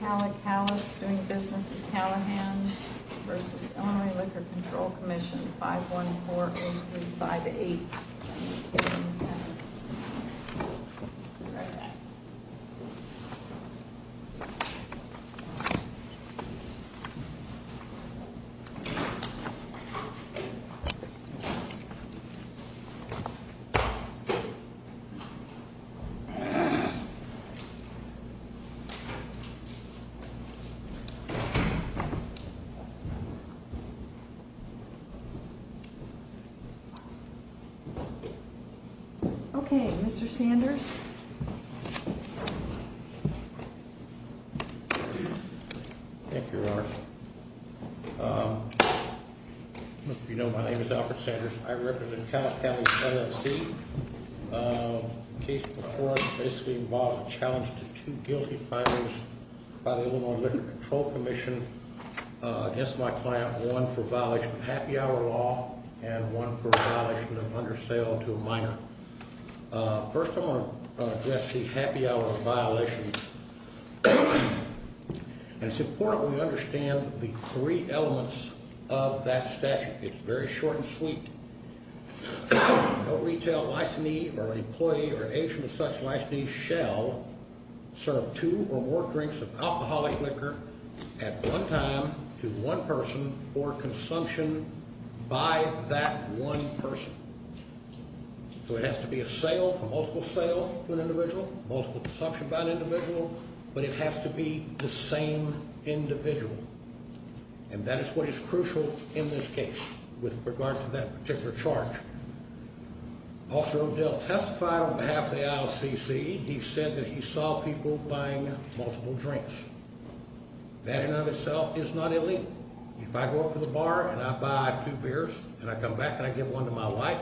Calla Callas, doing business as Callahan's versus Illinois Liquor Control Commission 514-8358. Okay, Mr. Sanders. Thank you. You know, my name is Alfred Sanders. I represent Calla Callas LLC. The case before us basically involves a challenge to two guilty findings by the Illinois Liquor Control Commission against my client. One for violation of happy hour law and one for violation of undersale to a minor. First, I want to address the happy hour violation. And it's important we understand the three elements of that statute. It's very short and sweet. No retail licensee or employee or agent of such licensee shall serve two or more drinks of alcoholic liquor at one time to one person for consumption by that one person. So it has to be a sale, a multiple sale to an individual, multiple consumption by an individual. But it has to be the same individual. And that is what is crucial in this case with regard to that particular charge. Officer O'Dell testified on behalf of the LLC. He said that he saw people buying multiple drinks. That in and of itself is not illegal. If I go up to the bar and I buy two beers and I come back and I give one to my wife,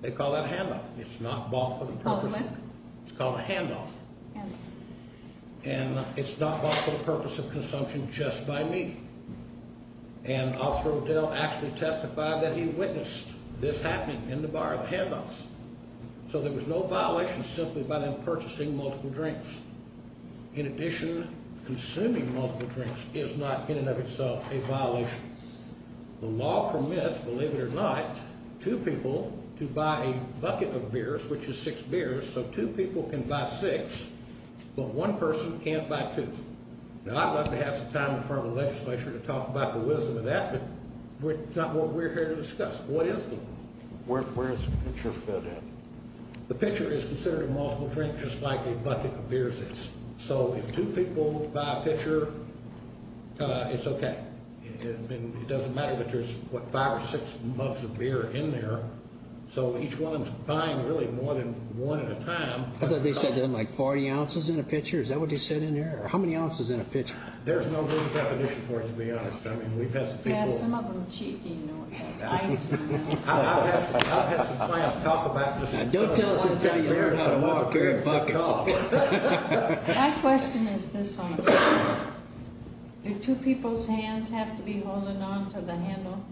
they call that a handoff. It's not bought for the purpose. It's called a handoff. And it's not bought for the purpose of consumption just by me. And Officer O'Dell actually testified that he witnessed this happening in the bar, the handoffs. So there was no violation simply by them purchasing multiple drinks. In addition, consuming multiple drinks is not in and of itself a violation. The law permits, believe it or not, two people to buy a bucket of beers, which is six beers. So two people can buy six, but one person can't buy two. Now, I'd love to have some time in front of the legislature to talk about the wisdom of that, but it's not what we're here to discuss. What is the law? Where is the picture fit in? The picture is considered a multiple drink just like a bucket of beers is. So if two people buy a pitcher, it's okay. It doesn't matter that there's, what, five or six mugs of beer in there. So each one's buying really more than one at a time. I thought they said there's like 40 ounces in a pitcher. Is that what they said in there? How many ounces in a pitcher? There's no good definition for it, to be honest. I mean, we've had some people. Yeah, some of them cheat, you know. I've had some clients talk about this. Don't tell us until you learn how to walk. My question is this only. Do two people's hands have to be holding on to the handle?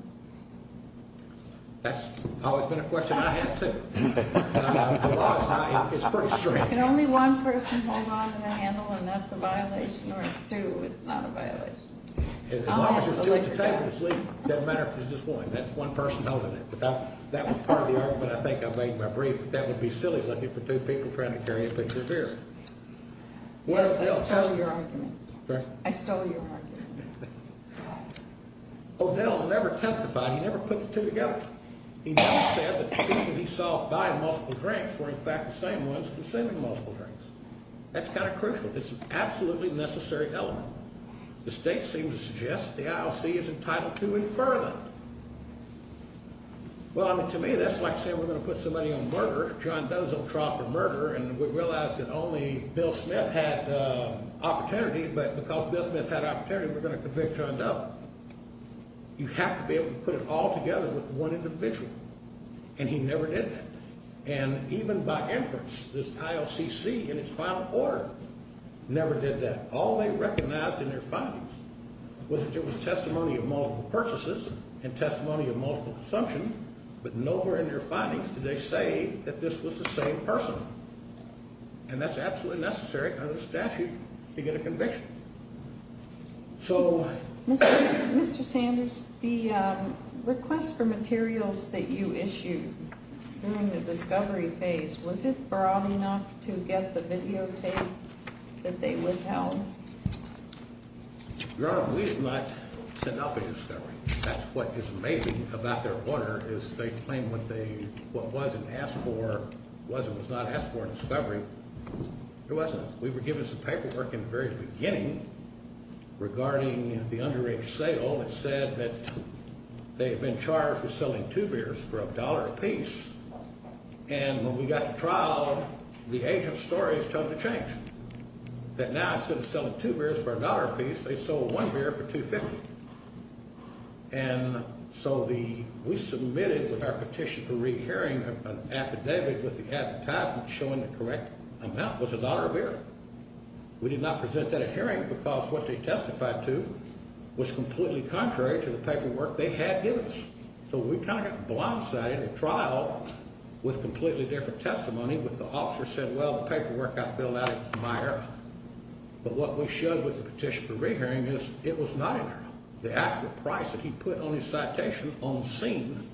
That's always been a question I had, too. The law is pretty strict. Can only one person hold on to the handle, and that's a violation, or two? It's not a violation. As long as you're still at the table to sleep, it doesn't matter if it's just one. That's one person holding it. That was part of the argument I think I made in my brief. That would be silly looking for two people trying to carry a pitcher of beer. Yes, I stole your argument. Sorry? I stole your argument. O'Dell never testified. He never put the two together. He never said that the people he saw buying multiple drinks were, in fact, the same ones consuming multiple drinks. That's kind of crucial. It's an absolutely necessary element. The state seems to suggest the ILC is entitled to infer that. Well, I mean, to me, that's like saying we're going to put somebody on murder, John Doe's on trial for murder, and we realize that only Bill Smith had opportunity, but because Bill Smith had opportunity, we're going to convict John Doe. You have to be able to put it all together with one individual, and he never did that. And even by inference, this ILCC in its final order never did that. All they recognized in their findings was that there was testimony of multiple purchases and testimony of multiple consumption, but nowhere in their findings did they say that this was the same person, and that's absolutely necessary under the statute to get a conviction. So why? Mr. Sanders, the request for materials that you issued during the discovery phase, was it broad enough to get the videotape that they withheld? Your Honor, we did not send out the discovery. That's what is amazing about their order, is they claim what was and was not asked for in discovery, it wasn't. We were given some paperwork in the very beginning regarding the underage sale. It said that they had been charged with selling two beers for a dollar apiece, and when we got to trial, the agent's story has totally changed. That now instead of selling two beers for a dollar apiece, they sold one beer for $2.50. And so we submitted with our petition for rehearing an affidavit with the advertisement showing the correct amount was a dollar a beer. We did not present that at hearing because what they testified to was completely contrary to the paperwork they had given us. So we kind of got blindsided at trial with completely different testimony. But the officer said, well, the paperwork I filled out, it was my error. But what we showed with the petition for rehearing is it was not an error. The actual price that he put on his citation on scene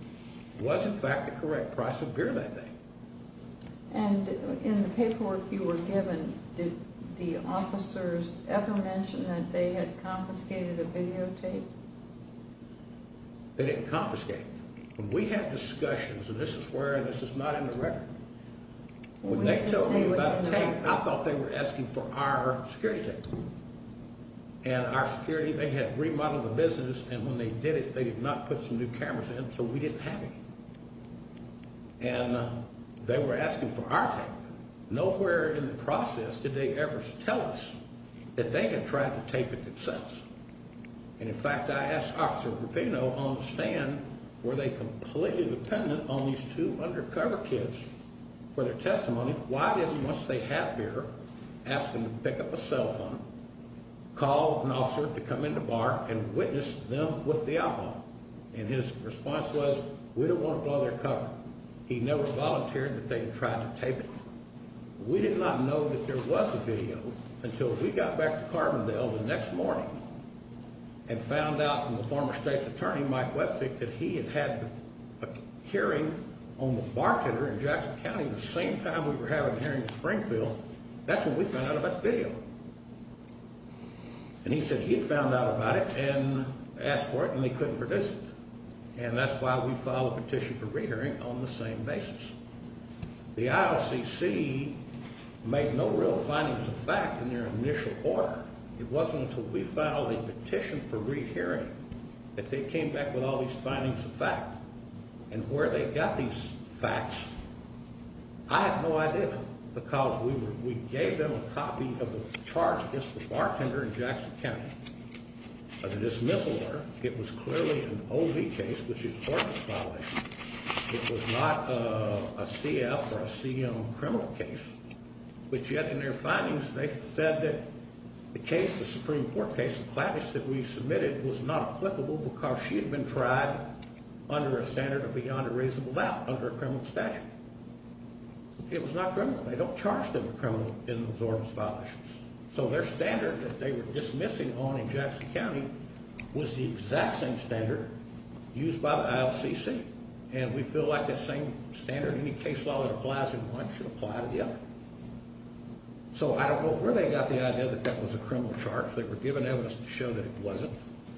was in fact the correct price of beer that day. And in the paperwork you were given, did the officers ever mention that they had confiscated a videotape? They didn't confiscate it. When we had discussions, and this is where this is not in the record, when they told me about the tape, I thought they were asking for our security tape. And our security, they had remodeled the business, and when they did it, they did not put some new cameras in, so we didn't have any. And they were asking for our tape. Nowhere in the process did they ever tell us that they had tried to tape it themselves. And in fact, I asked Officer Gravino on the stand, were they completely dependent on these two undercover kids for their testimony? Why didn't, once they had beer, ask them to pick up a cell phone, call an officer to come in the bar and witness them with the alcohol? And his response was, we don't want to blow their cover. He never volunteered that they had tried to tape it. We did not know that there was a video until we got back to Carbondale the next morning and found out from the former state's attorney, Mike Wetzik, that he had had a hearing on the bartender in Jackson County the same time we were having a hearing in Springfield. That's when we found out about the video. And he said he had found out about it and asked for it, and they couldn't produce it. And that's why we filed a petition for re-hearing on the same basis. The IOCC made no real findings of fact in their initial order. It wasn't until we filed a petition for re-hearing that they came back with all these findings of fact. And where they got these facts, I have no idea, because we gave them a copy of a charge against the bartender in Jackson County. By the dismissal order, it was clearly an O.V. case, which is tort case violation. It was not a C.F. or a C.M. criminal case. But yet in their findings, they said that the case, the Supreme Court case of Clavis that we submitted, was not applicable because she had been tried under a standard of beyond a reasonable doubt, under a criminal statute. It was not criminal. They don't charge them a criminal in those orms violations. So their standard that they were dismissing on in Jackson County was the exact same standard used by the IOCC. And we feel like that same standard, any case law that applies in one should apply to the other. So I don't know where they got the idea that that was a criminal charge. They were given evidence to show that it wasn't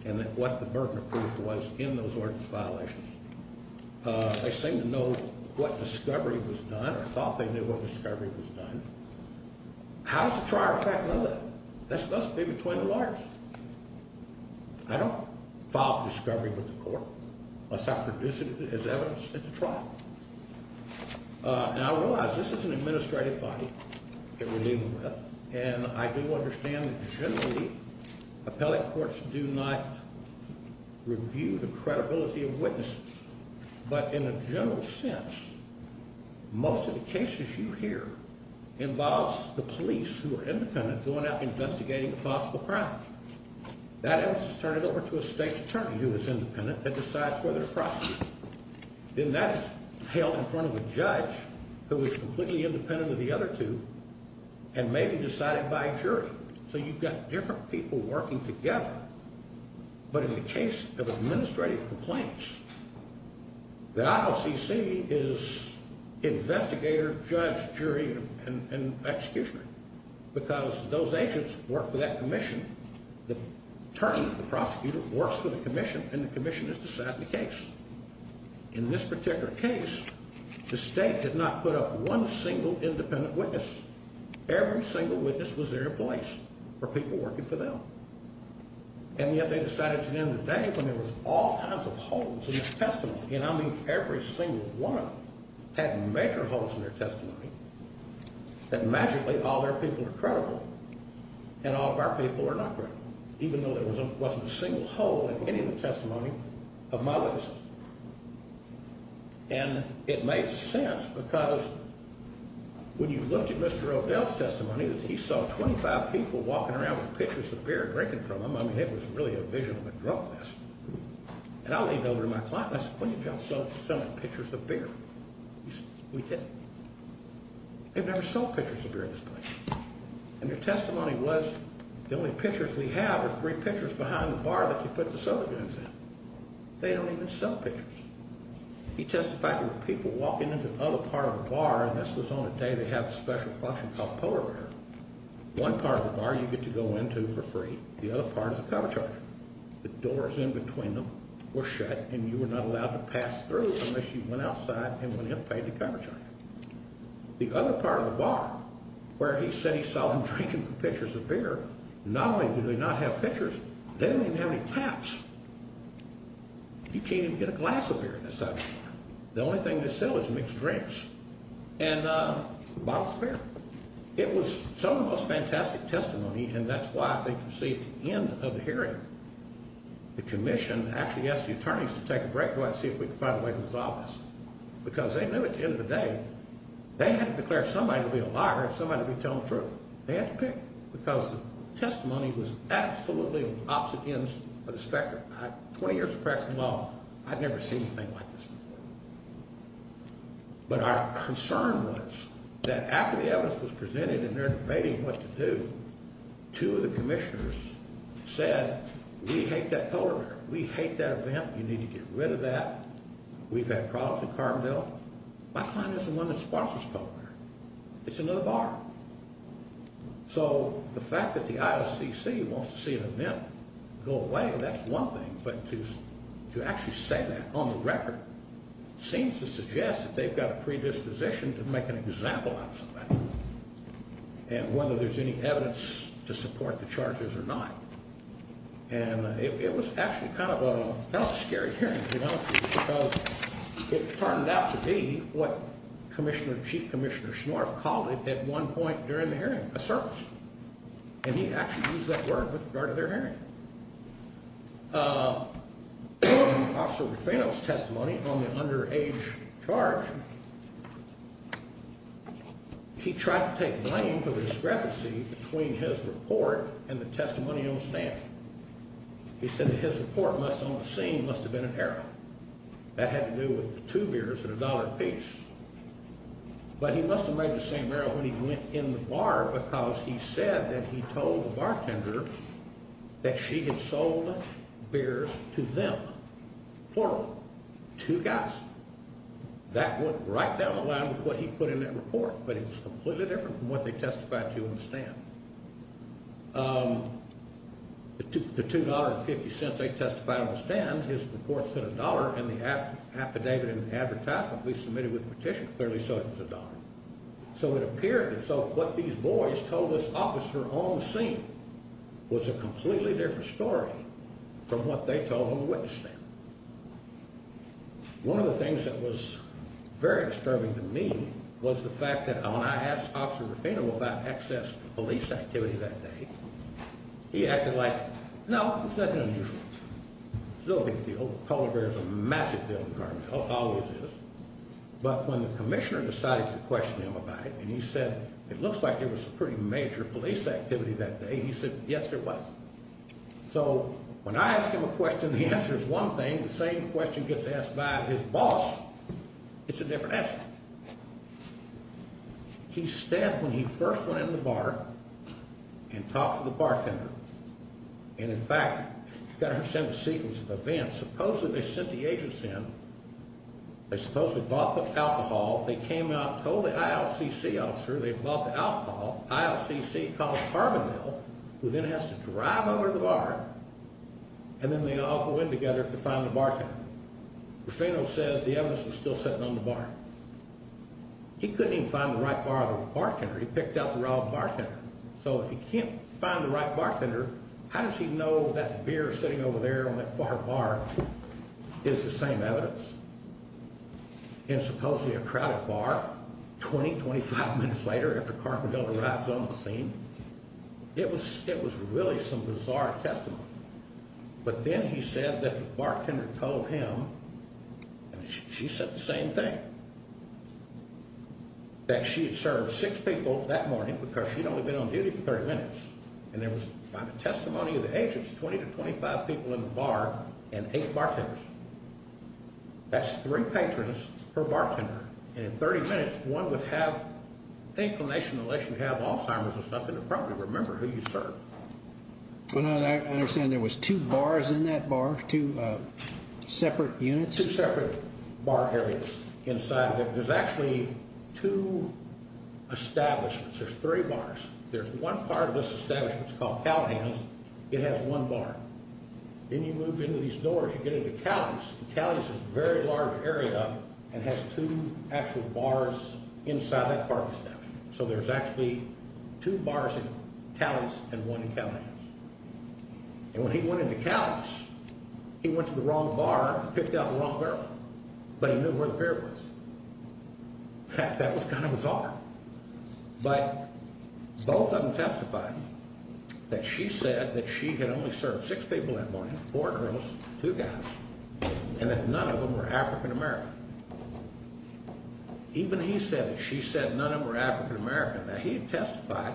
and that what the burden of proof was in those orms violations. They seemed to know what discovery was done or thought they knew what discovery was done. How does the trial fact know that? That's a big between the lawyers. I don't file discovery with the court unless I produce it as evidence at the trial. And I realize this is an administrative body that we're dealing with, and I do understand that generally appellate courts do not review the credibility of witnesses. But in a general sense, most of the cases you hear involves the police who are independent going out investigating a possible crime. That evidence is turned over to a state attorney who is independent and decides whether to prosecute. Then that is held in front of a judge who is completely independent of the other two and may be decided by a jury. So you've got different people working together. But in the case of administrative complaints, the IOCC is investigator, judge, jury, and executioner, because those agents work for that commission. The attorney, the prosecutor, works for the commission, and the commission has decided the case. In this particular case, the state did not put up one single independent witness. Every single witness was there in place for people working for them. And yet they decided at the end of the day when there was all kinds of holes in the testimony, and I mean every single one of them had major holes in their testimony, that magically all their people are credible and all of our people are not credible, even though there wasn't a single hole in any of the testimony of my witnesses. And it made sense because when you looked at Mr. O'Dell's testimony, he saw 25 people walking around with pitchers of beer drinking from them. I mean, it was really a vision of a drug fest. And I leaned over to my client and I said, when did you all start selling pitchers of beer? He said, we didn't. They've never sold pitchers of beer in this place. And their testimony was the only pitchers we have are three pitchers behind the bar that you put the soda guns in. They don't even sell pitchers. He testified there were people walking into the other part of the bar, and this was on a day they have a special function called polar bear. One part of the bar you get to go into for free. The other part is a cover charge. The doors in between them were shut, and you were not allowed to pass through unless you went outside and went in and paid the cover charge. The other part of the bar where he said he saw them drinking pitchers of beer, not only did they not have pitchers, they didn't even have any taps. You can't even get a glass of beer in this side of the bar. The only thing they sell is mixed drinks and bottles of beer. It was some of the most fantastic testimony, and that's why I think you see at the end of the hearing, the commission actually asked the attorneys to take a break, go out and see if we could find a way to resolve this. Because they knew at the end of the day, they had to declare somebody to be a liar and somebody to be telling the truth. They had to pick, because the testimony was absolutely on the opposite ends of the spectrum. Twenty years of practicing law, I've never seen anything like this before. But our concern was that after the evidence was presented and they're debating what to do, two of the commissioners said, we hate that polar bear. We hate that event. You need to get rid of that. We've had problems with Carbondale. I find this the one that sponsors polar bear. It's another bar. So the fact that the IOCC wants to see an event go away, that's one thing. But to actually say that on the record seems to suggest that they've got a predisposition to make an example out of something and whether there's any evidence to support the charges or not. And it was actually kind of a scary hearing, to be honest with you, because it turned out to be what Chief Commissioner Schnorf called it at one point during the hearing, a circus. And he actually used that word with regard to their hearing. Officer DeFano's testimony on the underage charge, he tried to take blame for the discrepancy between his report and the testimony on the stand. He said that his report on the scene must have been an error. That had to do with two beers and a dollar apiece. But he must have made the same error when he went in the bar because he said that he told the bartender that she had sold beers to them. Plural. Two guys. That went right down the line with what he put in that report, but it was completely different from what they testified to on the stand. The $2.50 they testified on the stand, his report said a dollar, and the affidavit and advertisement we submitted with the petition clearly showed it was a dollar. So it appeared that what these boys told this officer on the scene was a completely different story from what they told on the witness stand. One of the things that was very disturbing to me was the fact that when I asked Officer DeFano about excess police activity that day, he acted like, no, it's nothing unusual. It's no big deal. Polar bears are a massive deal in the department. It always is. But when the commissioner decided to question him about it, and he said it looks like there was some pretty major police activity that day, he said, yes, there was. So when I ask him a question, the answer is one thing. The same question gets asked by his boss. It's a different answer. He's stabbed when he first went in the bar and talked to the bartender. And, in fact, you've got to understand the sequence of events. Supposedly they sent the agents in. They supposedly bought the alcohol. They came out, told the ILCC officer they bought the alcohol. ILCC called Carbondale, who then has to drive over to the bar, and then they all go in together to find the bartender. Rufino says the evidence was still sitting on the bar. He couldn't even find the right bartender. He picked out the wrong bartender. So if he can't find the right bartender, how does he know that beer sitting over there on that far bar is the same evidence? In supposedly a crowded bar, 20, 25 minutes later, after Carbondale arrives on the scene, it was really some bizarre testimony. But then he said that the bartender told him, and she said the same thing, that she had served six people that morning because she'd only been on duty for 30 minutes. And there was, by the testimony of the agents, 20 to 25 people in the bar and eight bartenders. That's three patrons per bartender. And in 30 minutes, one would have an inclination to let you have Alzheimer's or something to probably remember who you served. I understand there was two bars in that bar, two separate units. Two separate bar areas inside. There's actually two establishments. There's three bars. There's one part of this establishment called Callahan's. It has one bar. Then you move into these doors, you get into Callie's. Callie's is a very large area and has two actual bars inside that bar. So there's actually two bars in Callie's and one in Callahan's. And when he went into Callie's, he went to the wrong bar and picked out the wrong girl. But he knew where the beer was. That was kind of bizarre. But both of them testified that she said that she had only served six people that morning, four girls, two guys, and that none of them were African American. Even he said that she said none of them were African American. Now, he testified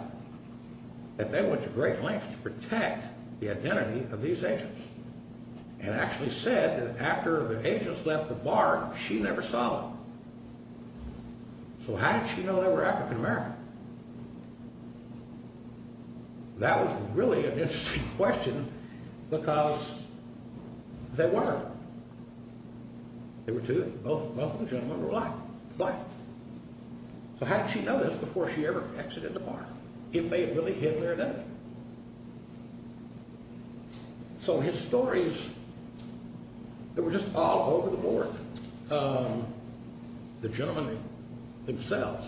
that they went to great lengths to protect the identity of these agents and actually said that after the agents left the bar, she never saw them. So how did she know they were African American? That was really an interesting question because they weren't. They were two of them. Both of the gentlemen were black. So how did she know this before she ever exited the bar? If they had really hidden their identity. So his stories, they were just all over the board. The gentlemen themselves,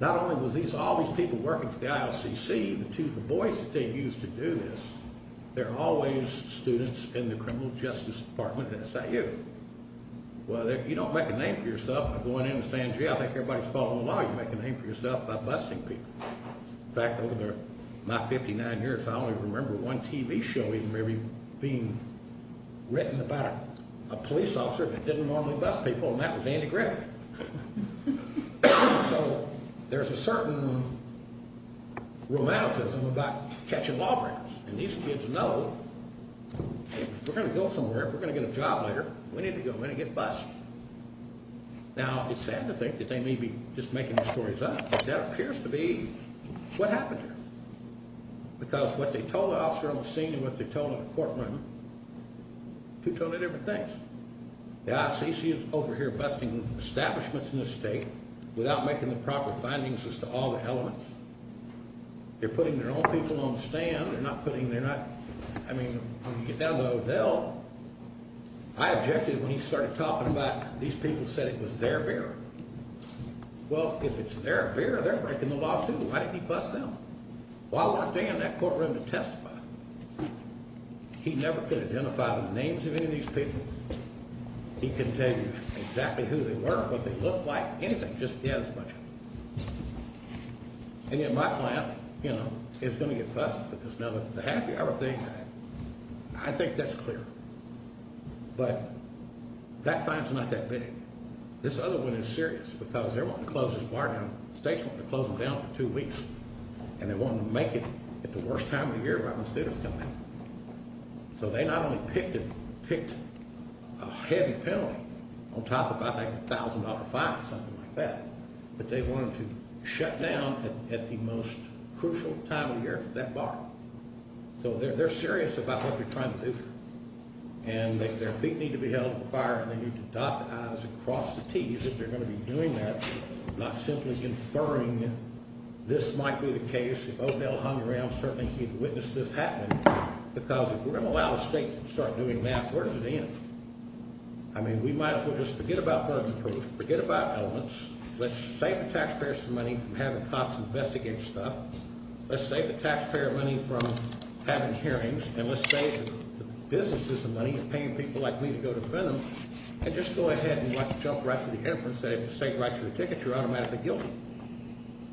not only was all these people working for the IOCC, the boys that they used to do this, they're always students in the criminal justice department at SIU. Well, you don't make a name for yourself going into San Diego. I think everybody's following the law. You make a name for yourself by busting people. In fact, over my 59 years, I only remember one TV show even maybe being written about a police officer that didn't normally bust people, and that was Andy Griffith. So there's a certain romanticism about catching lawbreakers. And these kids know if we're going to go somewhere, if we're going to get a job later, we need to go in and get busted. Now, it's sad to think that they may be just making the stories up, but that appears to be what happened here because what they told the officer on the scene and what they told in the courtroom, two totally different things. The IOCC is over here busting establishments in this state without making the proper findings as to all the elements. They're putting their own people on the stand. They're not putting their not—I mean, when you get down to Odell, I objected when he started talking about these people said it was their beer. Well, if it's their beer, they're breaking the law, too. Why did he bust them? Well, I worked in that courtroom to testify. He never could identify the names of any of these people. He couldn't tell you exactly who they were, what they looked like, anything. He just had a bunch of them. And yet my client is going to get busted for this. Now, the happy hour thing, I think that's clear. But that fine's not that big. This other one is serious because they're wanting to close this bar down. The state's wanting to close them down for two weeks, and they want them to make it at the worst time of the year right when the students come in. So they not only picked a heavy penalty on top of, I think, a $1,000 fine or something like that, but they want them to shut down at the most crucial time of the year for that bar. So they're serious about what they're trying to do, and their feet need to be held to the fire and they need to dot the I's and cross the T's if they're going to be doing that, not simply inferring this might be the case. If Odell hung around, certainly he'd witness this happening because if we're going to allow the state to start doing that, where does it end? I mean, we might as well just forget about burden proof, forget about elements. Let's save the taxpayers some money from having cops investigate stuff. Let's save the taxpayer money from having hearings, and let's save the businesses the money of paying people like me to go defend them and just go ahead and jump right to the inference that if the state writes you a ticket, you're automatically guilty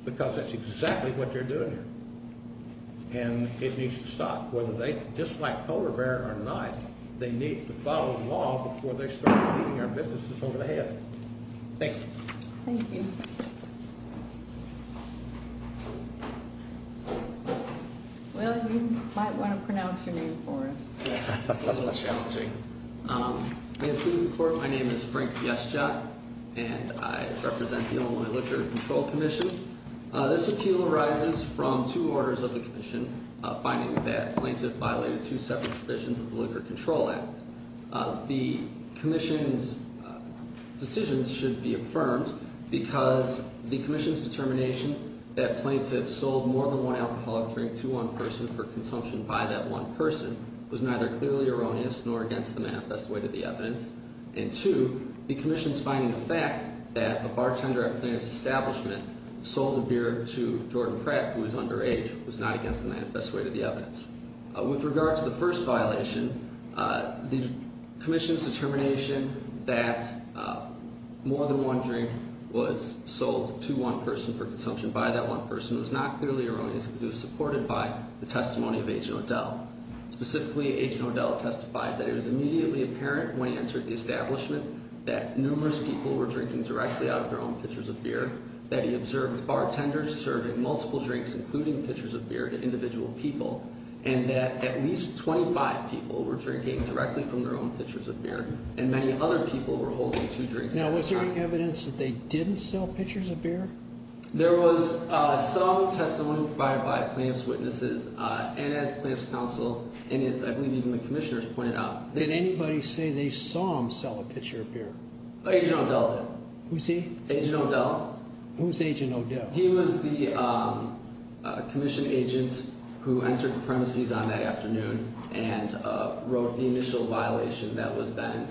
because that's exactly what they're doing here. And it needs to stop. Whether they dislike polar bear or not, they need to follow the law before they start beating our businesses over the head. Thank you. Thank you. Well, you might want to pronounce your name for us. Yes, it's a little challenging. May it please the court, my name is Frank Bieszczak, and I represent the Illinois Liquor Control Commission. This appeal arises from two orders of the commission, finding that a plaintiff violated two separate provisions of the Liquor Control Act. The commission's decisions should be affirmed because the commission's determination that plaintiffs sold more than one alcoholic drink to one person for consumption by that one person was neither clearly erroneous nor against the manifest way to the evidence, and two, the commission's finding the fact that a bartender at a plaintiff's establishment sold a beer to Jordan Pratt, who was underage, was not against the manifest way to the evidence. With regard to the first violation, the commission's determination that more than one drink was sold to one person for consumption by that one person was not clearly erroneous because it was supported by the testimony of Agent O'Dell. Specifically, Agent O'Dell testified that it was immediately apparent when he entered the establishment that numerous people were drinking directly out of their own pitchers of beer, that he observed bartenders serving multiple drinks, including pitchers of beer, to individual people, and that at least 25 people were drinking directly from their own pitchers of beer, and many other people were holding two drinks at a time. Now, was there any evidence that they didn't sell pitchers of beer? There was some testimony provided by plaintiff's witnesses, and as plaintiff's counsel and, I believe, even the commissioners pointed out. Did anybody say they saw him sell a pitcher of beer? Agent O'Dell did. Who's he? Agent O'Dell. Who's Agent O'Dell? He was the commission agent who entered the premises on that afternoon and wrote the initial violation that was then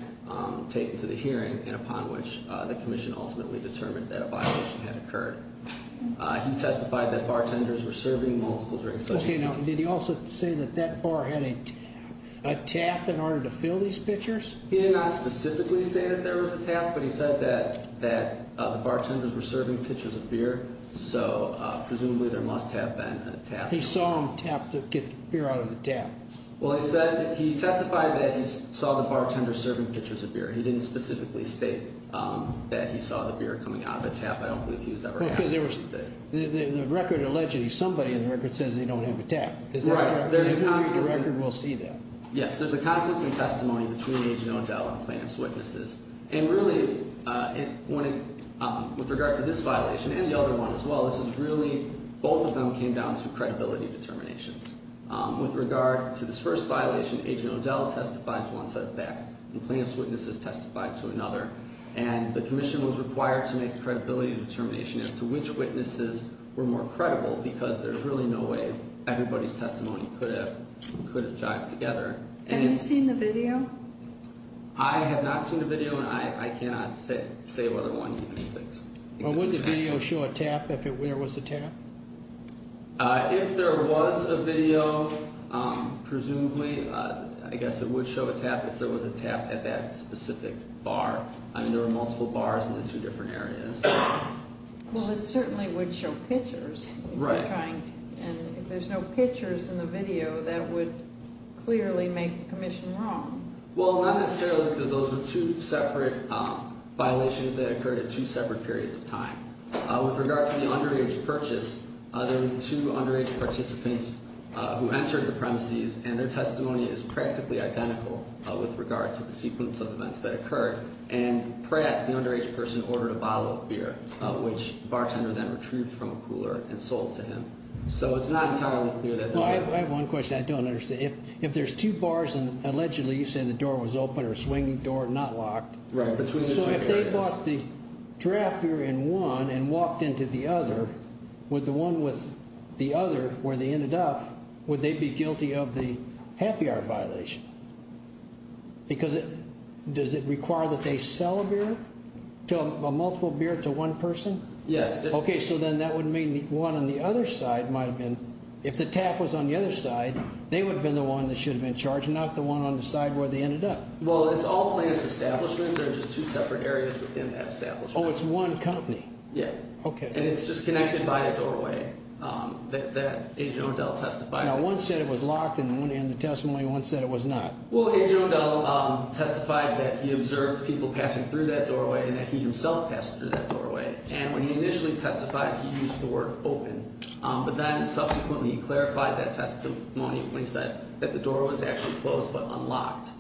taken to the hearing and upon which the commission ultimately determined that a violation had occurred. He testified that bartenders were serving multiple drinks. Okay. Now, did he also say that that bar had a tap in order to fill these pitchers? He did not specifically say that there was a tap, but he said that the bartenders were serving pitchers of beer, so presumably there must have been a tap. He saw them tap to get the beer out of the tap. Well, he testified that he saw the bartenders serving pitchers of beer. He didn't specifically state that he saw the beer coming out of a tap. I don't believe he was ever asked to do that. The record allegedly, somebody in the record says they don't have a tap. Right. The record will see that. Yes, there's a conflict in testimony between Agent O'Dell and plaintiff's witnesses. And really, with regard to this violation and the other one as well, this is really, both of them came down to credibility determinations. With regard to this first violation, Agent O'Dell testified to one set of facts and plaintiff's witnesses testified to another, and the commission was required to make a credibility determination as to which witnesses were more credible because there's really no way everybody's testimony could have jived together. Have you seen the video? I have not seen the video, and I cannot say whether one exists. Would the video show a tap, if there was a tap? If there was a video, presumably, I guess it would show a tap if there was a tap at that specific bar. I mean, there were multiple bars in the two different areas. Well, it certainly would show pitchers. Right. And if there's no pitchers in the video, that would clearly make the commission wrong. Well, not necessarily because those were two separate violations that occurred at two separate periods of time. With regard to the underage purchase, there were two underage participants who entered the premises, and their testimony is practically identical with regard to the sequence of events that occurred. And Pratt, the underage person, ordered a bottle of beer, which the bartender then retrieved from a cooler and sold to him. So it's not entirely clear that that happened. Well, I have one question I don't understand. If there's two bars, and allegedly you say the door was open or a swinging door, not locked. Right, between the two areas. So if they bought the draft beer in one and walked into the other, would the one with the other, where they ended up, would they be guilty of the happy hour violation? Because does it require that they sell a beer, a multiple beer, to one person? Yes. Okay, so then that would mean the one on the other side might have been. If the tap was on the other side, they would have been the one that should have been charged, not the one on the side where they ended up. Well, it's all plaintiff's establishment. There are just two separate areas within that establishment. Oh, it's one company. Yeah. Okay. And it's just connected by a doorway that Agent O'Dell testified. Now, one said it was locked in the testimony, and one said it was not. Well, Agent O'Dell testified that he observed people passing through that doorway and that he himself passed through that doorway. And when he initially testified, he used the word open. But then subsequently he clarified that testimony when he said that the door was actually closed but unlocked.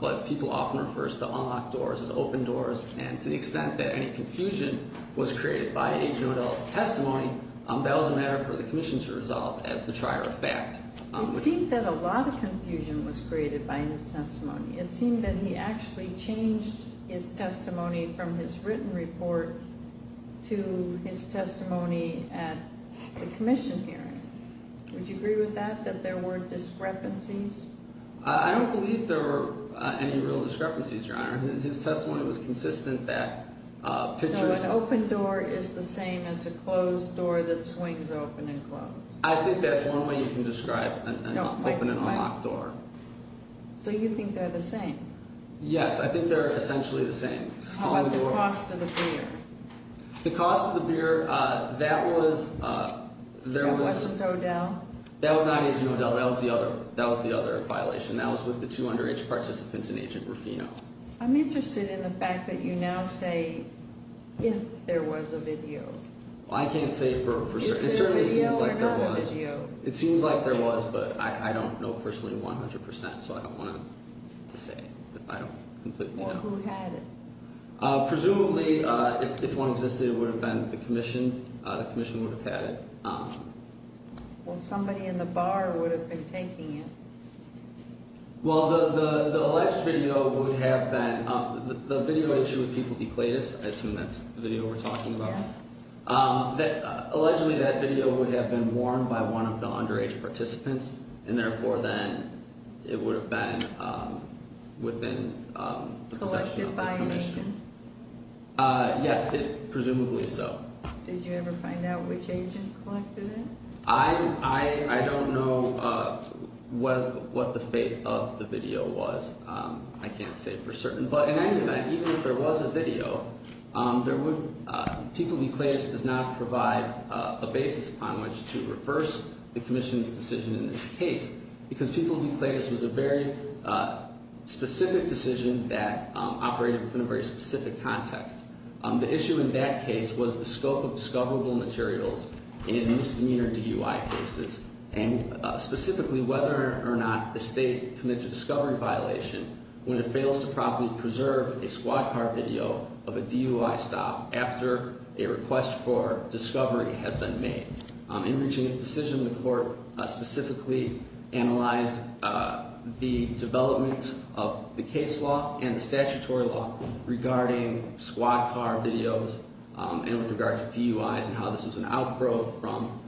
But people often refer to unlocked doors as open doors. And to the extent that any confusion was created by Agent O'Dell's testimony, that was a matter for the commission to resolve as the trier of fact. It seemed that a lot of confusion was created by his testimony. It seemed that he actually changed his testimony from his written report to his testimony at the commission hearing. Would you agree with that, that there were discrepancies? I don't believe there were any real discrepancies, Your Honor. His testimony was consistent that pictures of- A locked door that swings open and closed. I think that's one way you can describe an open and a locked door. So you think they're the same? Yes. I think they're essentially the same. But the cost of the beer. The cost of the beer, that was- That wasn't O'Dell? That was not Agent O'Dell. That was the other violation. That was with the two underage participants in Agent Rufino. I'm interested in the fact that you now say if there was a video. I can't say for certain. It certainly seems like there was. Is it a video or not a video? It seems like there was, but I don't know personally 100%, so I don't want to say. I don't completely know. Well, who had it? Presumably, if one existed, it would have been the commission. The commission would have had it. Well, somebody in the bar would have been taking it. Well, the alleged video would have been- The video issue with people with eclatus, I assume that's the video we're talking about. Yes. Allegedly, that video would have been worn by one of the underage participants, and therefore then it would have been within the possession of the commission. Collected by an agent? Yes, presumably so. Did you ever find out which agent collected it? I don't know what the fate of the video was. I can't say for certain. But in any event, even if there was a video, people with eclatus does not provide a basis upon which to reverse the commission's decision in this case because people with eclatus was a very specific decision that operated within a very specific context. The issue in that case was the scope of discoverable materials in misdemeanor DUI cases, and specifically whether or not the state commits a discovery violation when it fails to properly preserve a squad car video of a DUI stop after a request for discovery has been made. In reaching this decision, the court specifically analyzed the development of the case law and the statutory law regarding squad car videos and with regard to DUIs and how this was an outgrowth from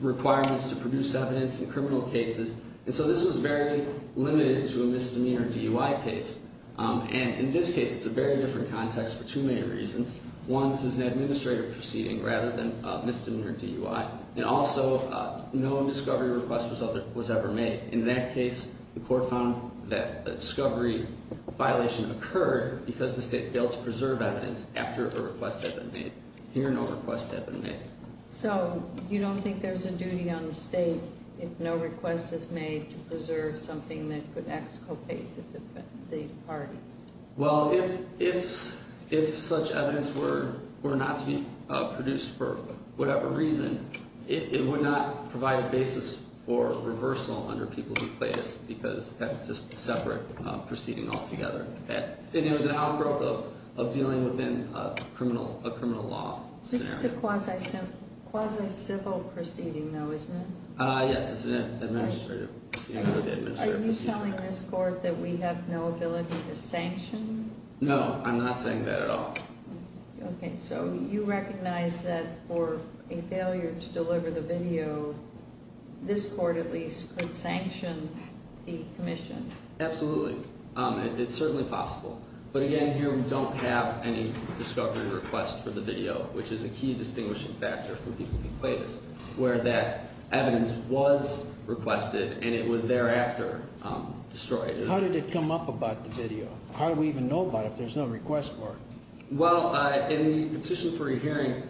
requirements to produce evidence in criminal cases. And so this was very limited to a misdemeanor DUI case. And in this case, it's a very different context for two main reasons. One, this is an administrative proceeding rather than a misdemeanor DUI. And also, no discovery request was ever made. In that case, the court found that a discovery violation occurred because the state failed to preserve evidence after a request had been made. Here, no request had been made. So you don't think there's a duty on the state if no request is made to preserve something that could exculpate the parties? Well, if such evidence were not to be produced for whatever reason, it would not provide a basis for reversal under people who play this because that's just a separate proceeding altogether. And it was an outgrowth of dealing within a criminal law scenario. This is a quasi-civil proceeding, though, isn't it? Yes, it's an administrative proceeding. Are you telling this court that we have no ability to sanction? No, I'm not saying that at all. Okay, so you recognize that for a failure to deliver the video, this court at least could sanction the commission? Absolutely. It's certainly possible. But again, here we don't have any discovery request for the video, which is a key distinguishing factor for people who play this, where that evidence was requested and it was thereafter destroyed. How did it come up about the video? How do we even know about it if there's no request for it? Well, in the petition for a hearing,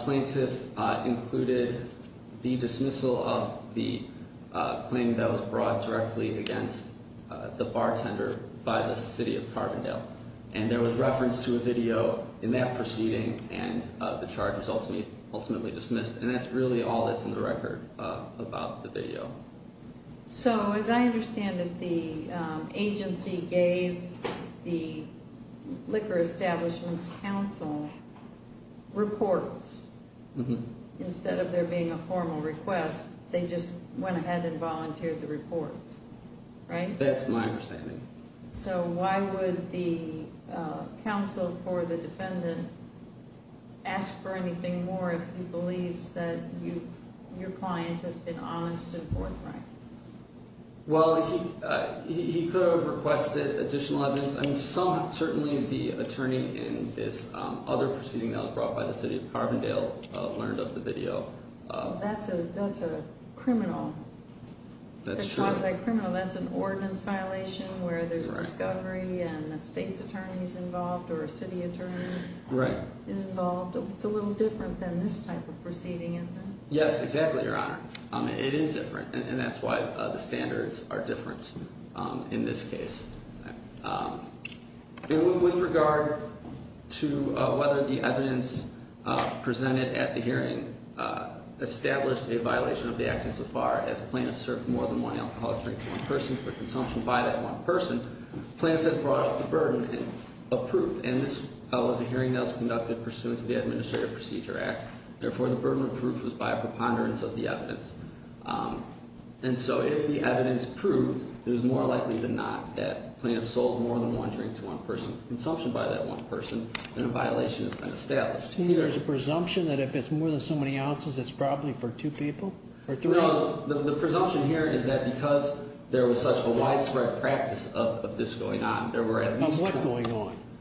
plaintiff included the dismissal of the claim that was brought directly against the bartender by the city of Carbondale. And there was reference to a video in that proceeding, and the charge was ultimately dismissed. And that's really all that's in the record about the video. So as I understand it, the agency gave the liquor establishment's counsel reports. Mm-hmm. Instead of there being a formal request, they just went ahead and volunteered the reports, right? That's my understanding. So why would the counsel for the defendant ask for anything more if he believes that your client has been honest and forthright? Well, he could have requested additional evidence. I mean, certainly the attorney in this other proceeding that was brought by the city of Carbondale learned of the video. That's a criminal. That's true. That's a cross-site criminal. That's an ordinance violation where there's discovery and the state's attorney's involved or a city attorney is involved. It's a little different than this type of proceeding, isn't it? Yes, exactly, Your Honor. It is different, and that's why the standards are different in this case. With regard to whether the evidence presented at the hearing established a violation of the act insofar as plaintiff served more than one alcoholic drink to one person for consumption by that one person, plaintiff has brought up the burden of proof. And this was a hearing that was conducted pursuant to the Administrative Procedure Act. Therefore, the burden of proof was by a preponderance of the evidence. And so if the evidence proved it was more likely than not that plaintiff sold more than one drink to one person for consumption by that one person, then a violation has been established. You mean there's a presumption that if it's more than so many ounces, it's probably for two people or three? No, the presumption here is that because there was such a widespread practice of this going on, there were at least two. What's going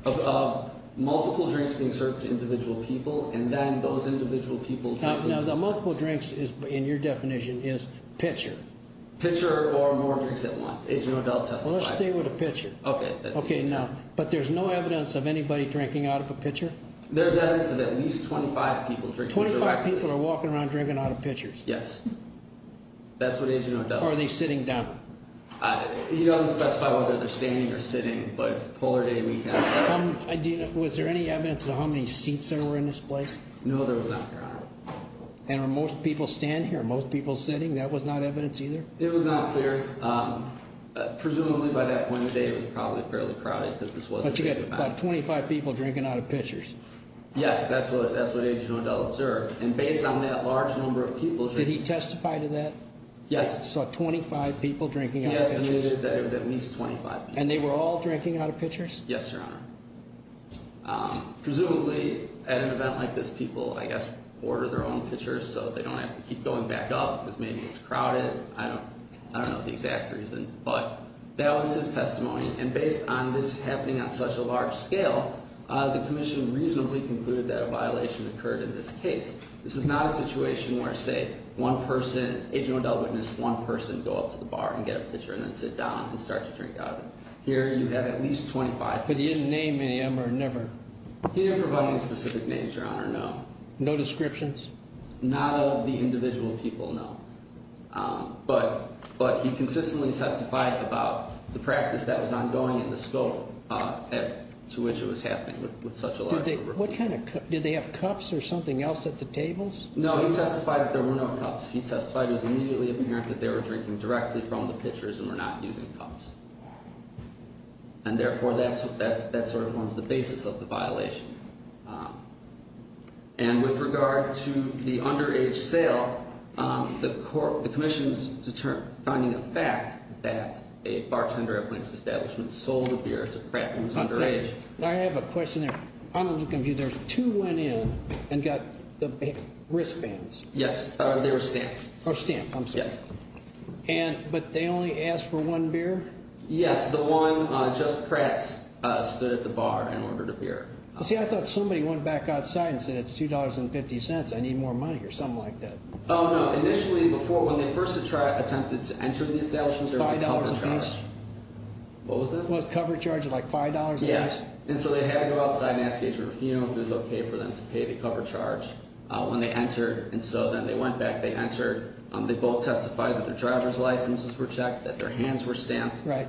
on? Multiple drinks being served to individual people, and then those individual people drinking. Now, the multiple drinks in your definition is pitcher. Pitcher or more drinks at once. Agent O'Dell testifies. Well, let's stay with a pitcher. Okay. But there's no evidence of anybody drinking out of a pitcher? There's evidence of at least 25 people drinking. 25 people are walking around drinking out of pitchers? Yes. That's what Agent O'Dell says. Or are they sitting down? He doesn't specify whether they're standing or sitting, but it's the polar day weekend. Was there any evidence of how many seats there were in this place? No, there was not, Your Honor. And are most people standing here? Are most people sitting? That was not evidence either? It was not clear. Presumably by that point of the day it was probably fairly crowded because this was a big event. But you got about 25 people drinking out of pitchers. Yes, that's what Agent O'Dell observed. And based on that large number of people. Did he testify to that? Yes. Saw 25 people drinking out of pitchers? He estimated that it was at least 25 people. And they were all drinking out of pitchers? Yes, Your Honor. Presumably at an event like this people, I guess, order their own pitchers so they don't have to keep going back up because maybe it's crowded. I don't know the exact reason. But that was his testimony. And based on this happening on such a large scale, the commission reasonably concluded that a violation occurred in this case. This is not a situation where, say, one person, Agent O'Dell witnessed one person go up to the bar and get a pitcher and then sit down and start to drink out of it. Here you have at least 25 people. But he didn't name any of them or never? He didn't provide any specific names, Your Honor, no. No descriptions? Not of the individual people, no. But he consistently testified about the practice that was ongoing and the scope to which it was happening with such a large number of people. What kind of cups? Did they have cups or something else at the tables? No, he testified that there were no cups. He testified it was immediately apparent that they were drinking directly from the pitchers and were not using cups. And, therefore, that sort of forms the basis of the violation. And with regard to the underage sale, the commission is finding a fact that a bartender at one of its establishments sold the beer to crappings underage. I have a question there. I'm a little confused. Two went in and got wristbands. Yes, they were stamped. Oh, stamped, I'm sorry. Yes. But they only asked for one beer? Yes, the one just pressed stood at the bar and ordered a beer. See, I thought somebody went back outside and said, it's $2.50, I need more money or something like that. Oh, no. Initially, before, when they first attempted to enter the establishment, there was a cover charge. $5 apiece? What was that? It was a cover charge of like $5 apiece. Yes. And so they had to go outside and ask Agent Ruffino if it was okay for them to pay the cover charge when they entered. And so then they went back, they entered. They both testified that their driver's licenses were checked, that their hands were stamped. Right.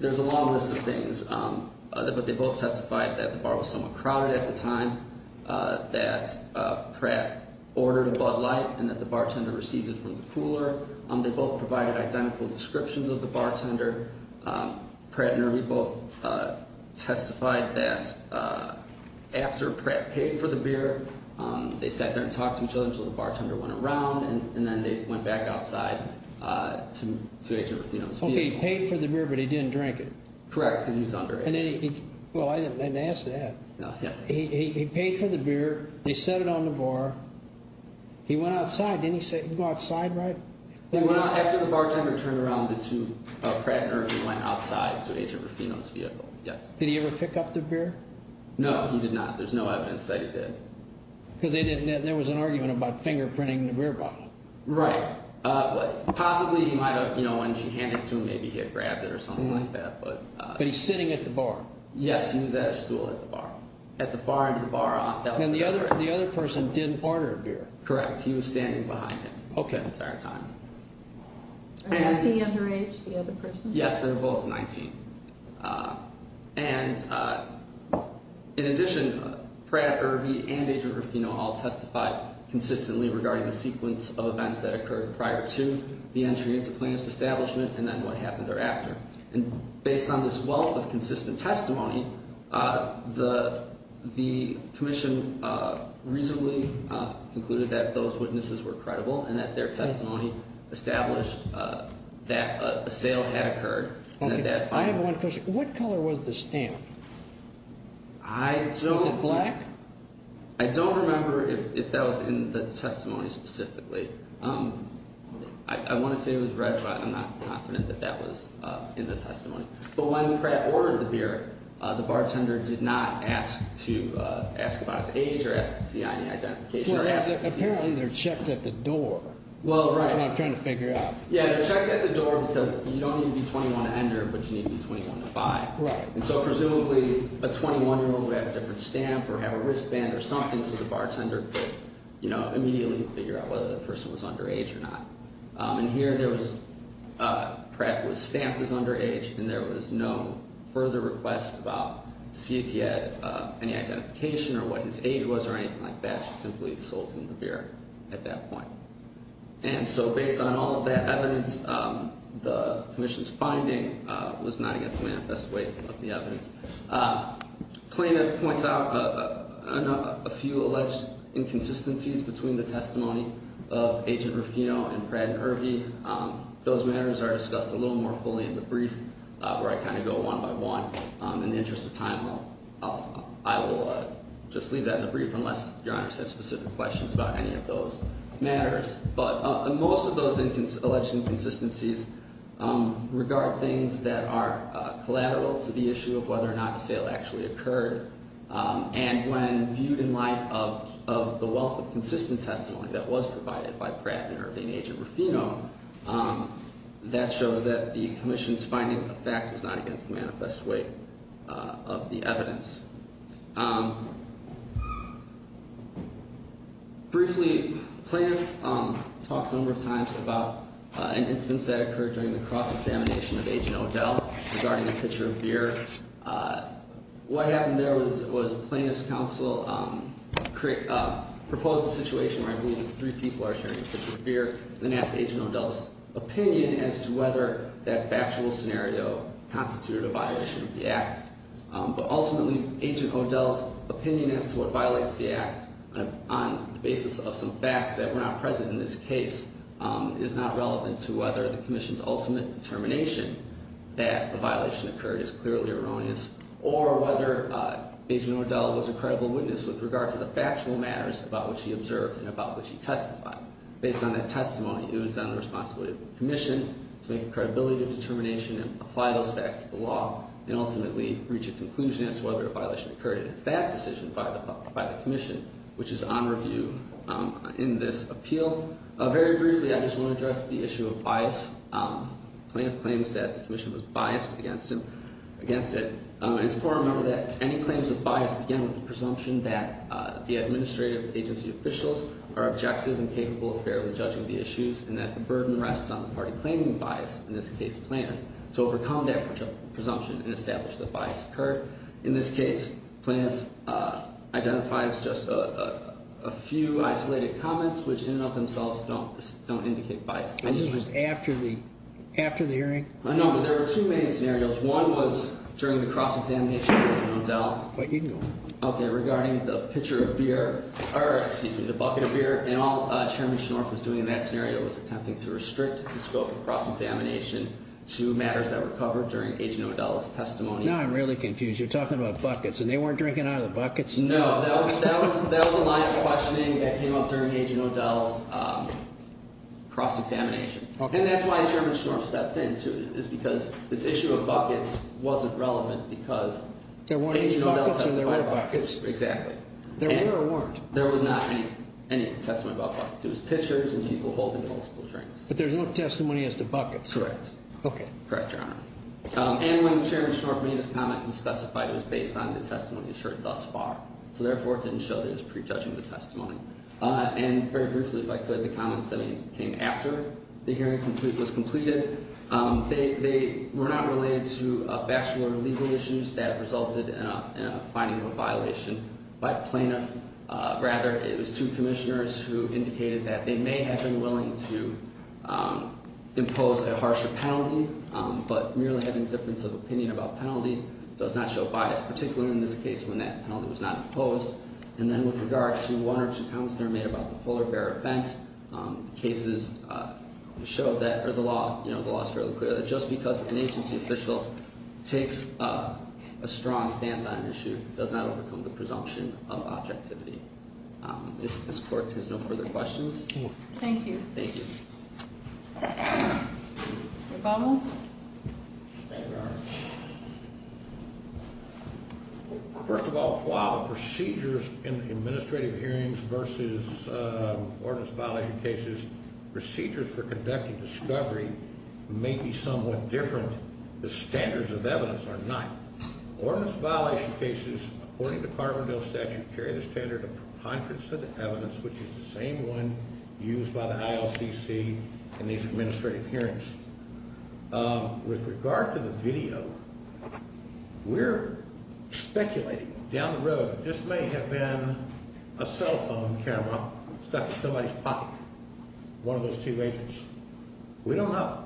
There's a long list of things. But they both testified that the bar was somewhat crowded at the time, that Pratt ordered a Bud Light, and that the bartender received it from the cooler. They both provided identical descriptions of the bartender. Pratt and Ermey both testified that after Pratt paid for the beer, they sat there and talked to each other until the bartender went around, and then they went back outside to Agent Ruffino's vehicle. Okay, he paid for the beer, but he didn't drink it. Correct, because he was underage. Well, I didn't ask that. He paid for the beer. They set it on the bar. He went outside, didn't he go outside, right? After the bartender turned around, Pratt and Ermey went outside to Agent Ruffino's vehicle, yes. Did he ever pick up the beer? No, he did not. There's no evidence that he did. Because there was an argument about fingerprinting the beer bottle. Right. Possibly he might have, you know, when she handed it to him, maybe he had grabbed it or something like that. But he's sitting at the bar. Yes, he was at a stool at the bar. At the far end of the bar. And the other person didn't order a beer. Correct, he was standing behind him the entire time. Was he underage, the other person? Yes, they were both 19. And, in addition, Pratt, Ermey, and Agent Ruffino all testified consistently regarding the sequence of events that occurred prior to the entry into Plaintiff's establishment and then what happened thereafter. And based on this wealth of consistent testimony, the commission reasonably concluded that those witnesses were credible and that their testimony established that a sale had occurred. Okay, I have one question. What color was the stamp? I don't. Was it black? I don't remember if that was in the testimony specifically. I want to say it was red, but I'm not confident that that was in the testimony. But when Pratt ordered the beer, the bartender did not ask to ask about his age or ask to see any identification. Apparently they're checked at the door. Well, right. That's what I'm trying to figure out. Yeah, they're checked at the door because you don't need to be 21 to enter, but you need to be 21 to 5. And so presumably a 21-year-old would have a different stamp or have a wristband or something so the bartender could, you know, immediately figure out whether the person was underage or not. And here Pratt was stamped as underage, and there was no further request about to see if he had any identification or what his age was or anything like that. She simply sold him the beer at that point. And so based on all of that evidence, the commission's finding was not against the manifest way of the evidence. Plaintiff points out a few alleged inconsistencies between the testimony of Agent Ruffino and Pratt and Irvy. Those matters are discussed a little more fully in the brief where I kind of go one by one. In the interest of time, I will just leave that in the brief unless Your Honor has specific questions about any of those matters. But most of those alleged inconsistencies regard things that are collateral to the issue of whether or not the sale actually occurred. And when viewed in light of the wealth of consistent testimony that was provided by Pratt and Irvy and Agent Ruffino, that shows that the commission's finding of fact was not against the manifest way of the evidence. Briefly, the plaintiff talks a number of times about an instance that occurred during the cross-examination of Agent O'Dell regarding a pitcher of beer. What happened there was a plaintiff's counsel proposed a situation where I believe these three people are sharing a pitcher of beer and asked Agent O'Dell's opinion as to whether that factual scenario constituted a violation of the act. But ultimately, Agent O'Dell's opinion as to what violates the act, on the basis of some facts that were not present in this case, is not relevant to whether the commission's ultimate determination that a violation occurred is clearly erroneous or whether Agent O'Dell was a credible witness with regard to the factual matters about which he observed and about which he testified. Based on that testimony, it was then the responsibility of the commission to make a credibility determination and apply those facts to the law and ultimately reach a conclusion as to whether a violation occurred. And it's that decision by the commission which is on review in this appeal. Very briefly, I just want to address the issue of bias. The plaintiff claims that the commission was biased against it. It's important to remember that any claims of bias begin with the presumption that the administrative agency officials are objective and capable of fairly judging the issues and that the burden rests on the party claiming bias, in this case plaintiff, to overcome that presumption and establish that bias occurred. In this case, plaintiff identifies just a few isolated comments which in and of themselves don't indicate bias. And this was after the hearing? No, but there were two main scenarios. One was during the cross-examination with Agent O'Dell. But you can go on. Okay, regarding the pitcher of beer or, excuse me, the bucket of beer and all Chairman Schnorf was doing in that scenario was attempting to restrict the scope of cross-examination to matters that were covered during Agent O'Dell's testimony. Now I'm really confused. You're talking about buckets and they weren't drinking out of the buckets? No, that was a line of questioning that came up during Agent O'Dell's cross-examination. And that's why Chairman Schnorf stepped in, too, is because this issue of buckets wasn't relevant because Agent O'Dell testified about buckets. Exactly. There were or weren't? There was not any testimony about buckets. It was pitchers and people holding multiple drinks. But there's no testimony as to buckets? Correct. Okay. Correct, Your Honor. And when Chairman Schnorf made his comment, he specified it was based on the testimony he's heard thus far. So, therefore, it didn't show that he was prejudging the testimony. And very briefly, if I could, the comments that came after the hearing was completed. They were not related to factual or legal issues that resulted in a finding of a violation by a plaintiff. Rather, it was two commissioners who indicated that they may have been willing to impose a harsher penalty, but merely having a difference of opinion about penalty does not show bias, particularly in this case when that penalty was not imposed. And then with regard to one or two comments that were made about the polar bear event, cases show that, or the law is fairly clear, that just because an agency official takes a strong stance on an issue does not overcome the presumption of objectivity. If this Court has no further questions. Thank you. Thank you. Your Bowl. Thank you, Your Honor. First of all, while the procedures in the administrative hearings versus ordinance violation cases, procedures for conducting discovery may be somewhat different, the standards of evidence are not. Ordinance violation cases, according to Carbondale statute, carry the standard of preponderance of the evidence, which is the same one used by the ILCC in these administrative hearings. With regard to the video, we're speculating down the road that this may have been a cell phone camera stuck in somebody's pocket, one of those two agents. We don't know.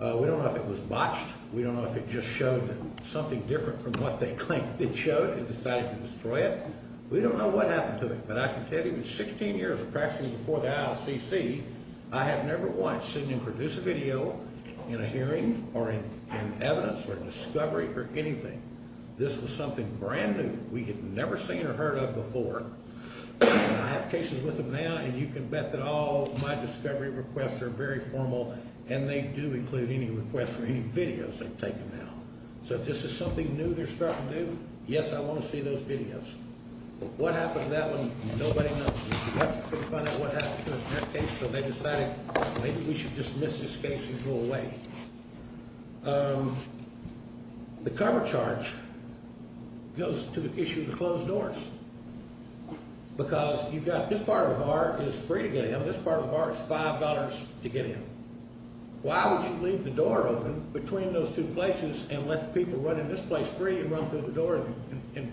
We don't know if it was botched. We don't know if it just showed something different from what they claimed it showed and decided to destroy it. We don't know what happened to it. But I can tell you, in 16 years of practicing before the ILCC, I have never once seen them produce a video in a hearing or in evidence or discovery or anything. This was something brand new. We had never seen or heard of before. I have cases with them now, and you can bet that all my discovery requests are very formal, and they do include any requests for any videos they've taken now. So if this is something new they're starting to do, yes, I want to see those videos. What happened to that one, nobody knows. We couldn't find out what happened to that case, so they decided maybe we should dismiss this case and go away. The cover charge goes to the issue of the closed doors because you've got this part of the bar is free to get in, and this part of the bar is $5 to get in. Why would you leave the door open between those two places and let people run in this place free and run through the door and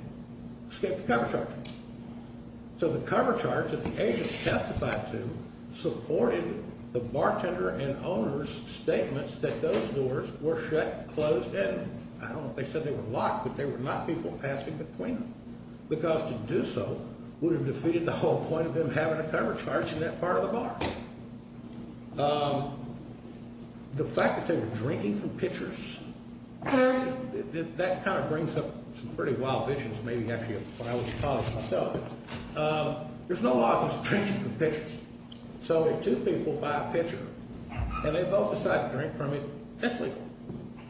escape the cover charge? So the cover charge that the agent testified to supported the bartender and owner's statements that those doors were shut, closed, and I don't know if they said they were locked, but they were not people passing between them because to do so would have defeated the whole point of them having a cover charge in that part of the bar. The fact that they were drinking from pitchers, that kind of brings up some pretty wild visions, maybe actually of what I would have thought of myself. There's no law against drinking from pitchers. So if two people buy a pitcher and they both decide to drink from it, that's legal.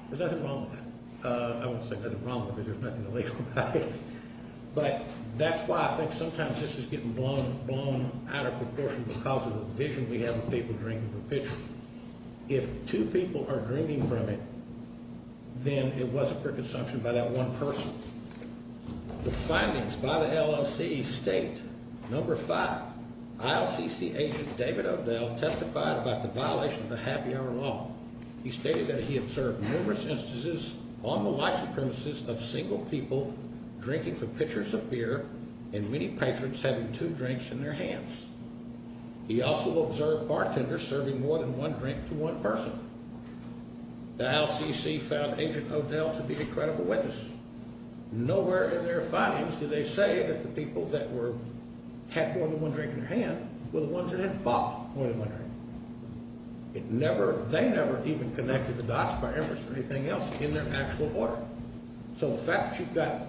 There's nothing wrong with that. I wouldn't say there's nothing wrong with it, there's nothing illegal about it. But that's why I think sometimes this is getting blown out of proportion because of the vision we have of people drinking from pitchers. If two people are drinking from it, then it wasn't for consumption by that one person. The findings by the LLC state, number five, ILCC agent David O'Dell testified about the violation of the happy hour law. He stated that he observed numerous instances on the license premises of single people drinking from pitchers of beer and many patrons having two drinks in their hands. He also observed bartenders serving more than one drink to one person. The ILCC found agent O'Dell to be a credible witness. Nowhere in their findings do they say that the people that had more than one drink in their hand were the ones that had bought more than one drink. They never even connected the dots by inference or anything else in their actual order. So the fact that you've got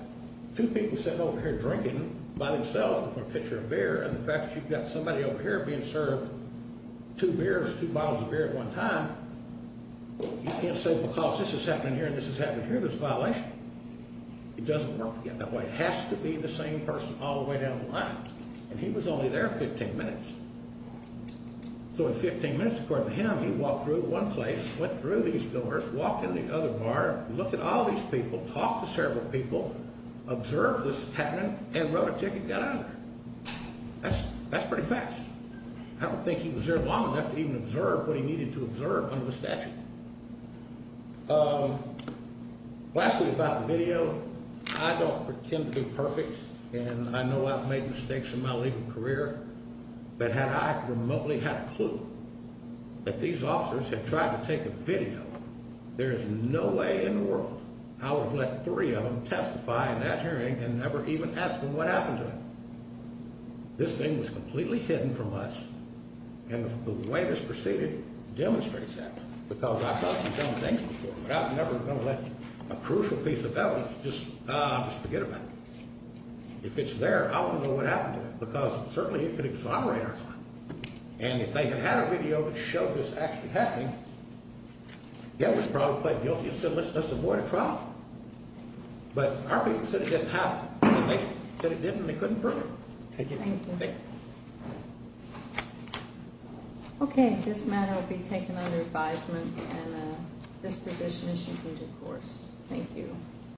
two people sitting over here drinking by themselves from a pitcher of beer and the fact that you've got somebody over here being served two beers, two bottles of beer at one time, you can't say because this is happening here and this is happening here, there's a violation. It doesn't work that way. It has to be the same person all the way down the line. And he was only there 15 minutes. So in 15 minutes, according to him, he walked through one place, went through these doors, walked in the other bar, looked at all these people, talked to several people, observed what was happening and wrote a ticket and got out of there. That's pretty fast. I don't think he was there long enough to even observe what he needed to observe under the statute. Lastly about the video, I don't pretend to be perfect and I know I've made mistakes in my legal career, but had I remotely had a clue that these officers had tried to take a video, there is no way in the world I would have let three of them testify in that hearing and never even asked them what happened to them. This thing was completely hidden from us and the way this proceeded demonstrates that because I've thought some dumb things before, but I'm never going to let a crucial piece of evidence just, ah, just forget about it. If it's there, I want to know what happened to it because certainly it could exonerate us all. And if they had had a video that showed this actually happening, they would have probably pled guilty and said, let's just avoid a trial. But our people said it didn't happen. They said it didn't and they couldn't prove it. Thank you. Thank you. Okay, this matter will be taken under advisement and this position is shifted to the courts. Thank you.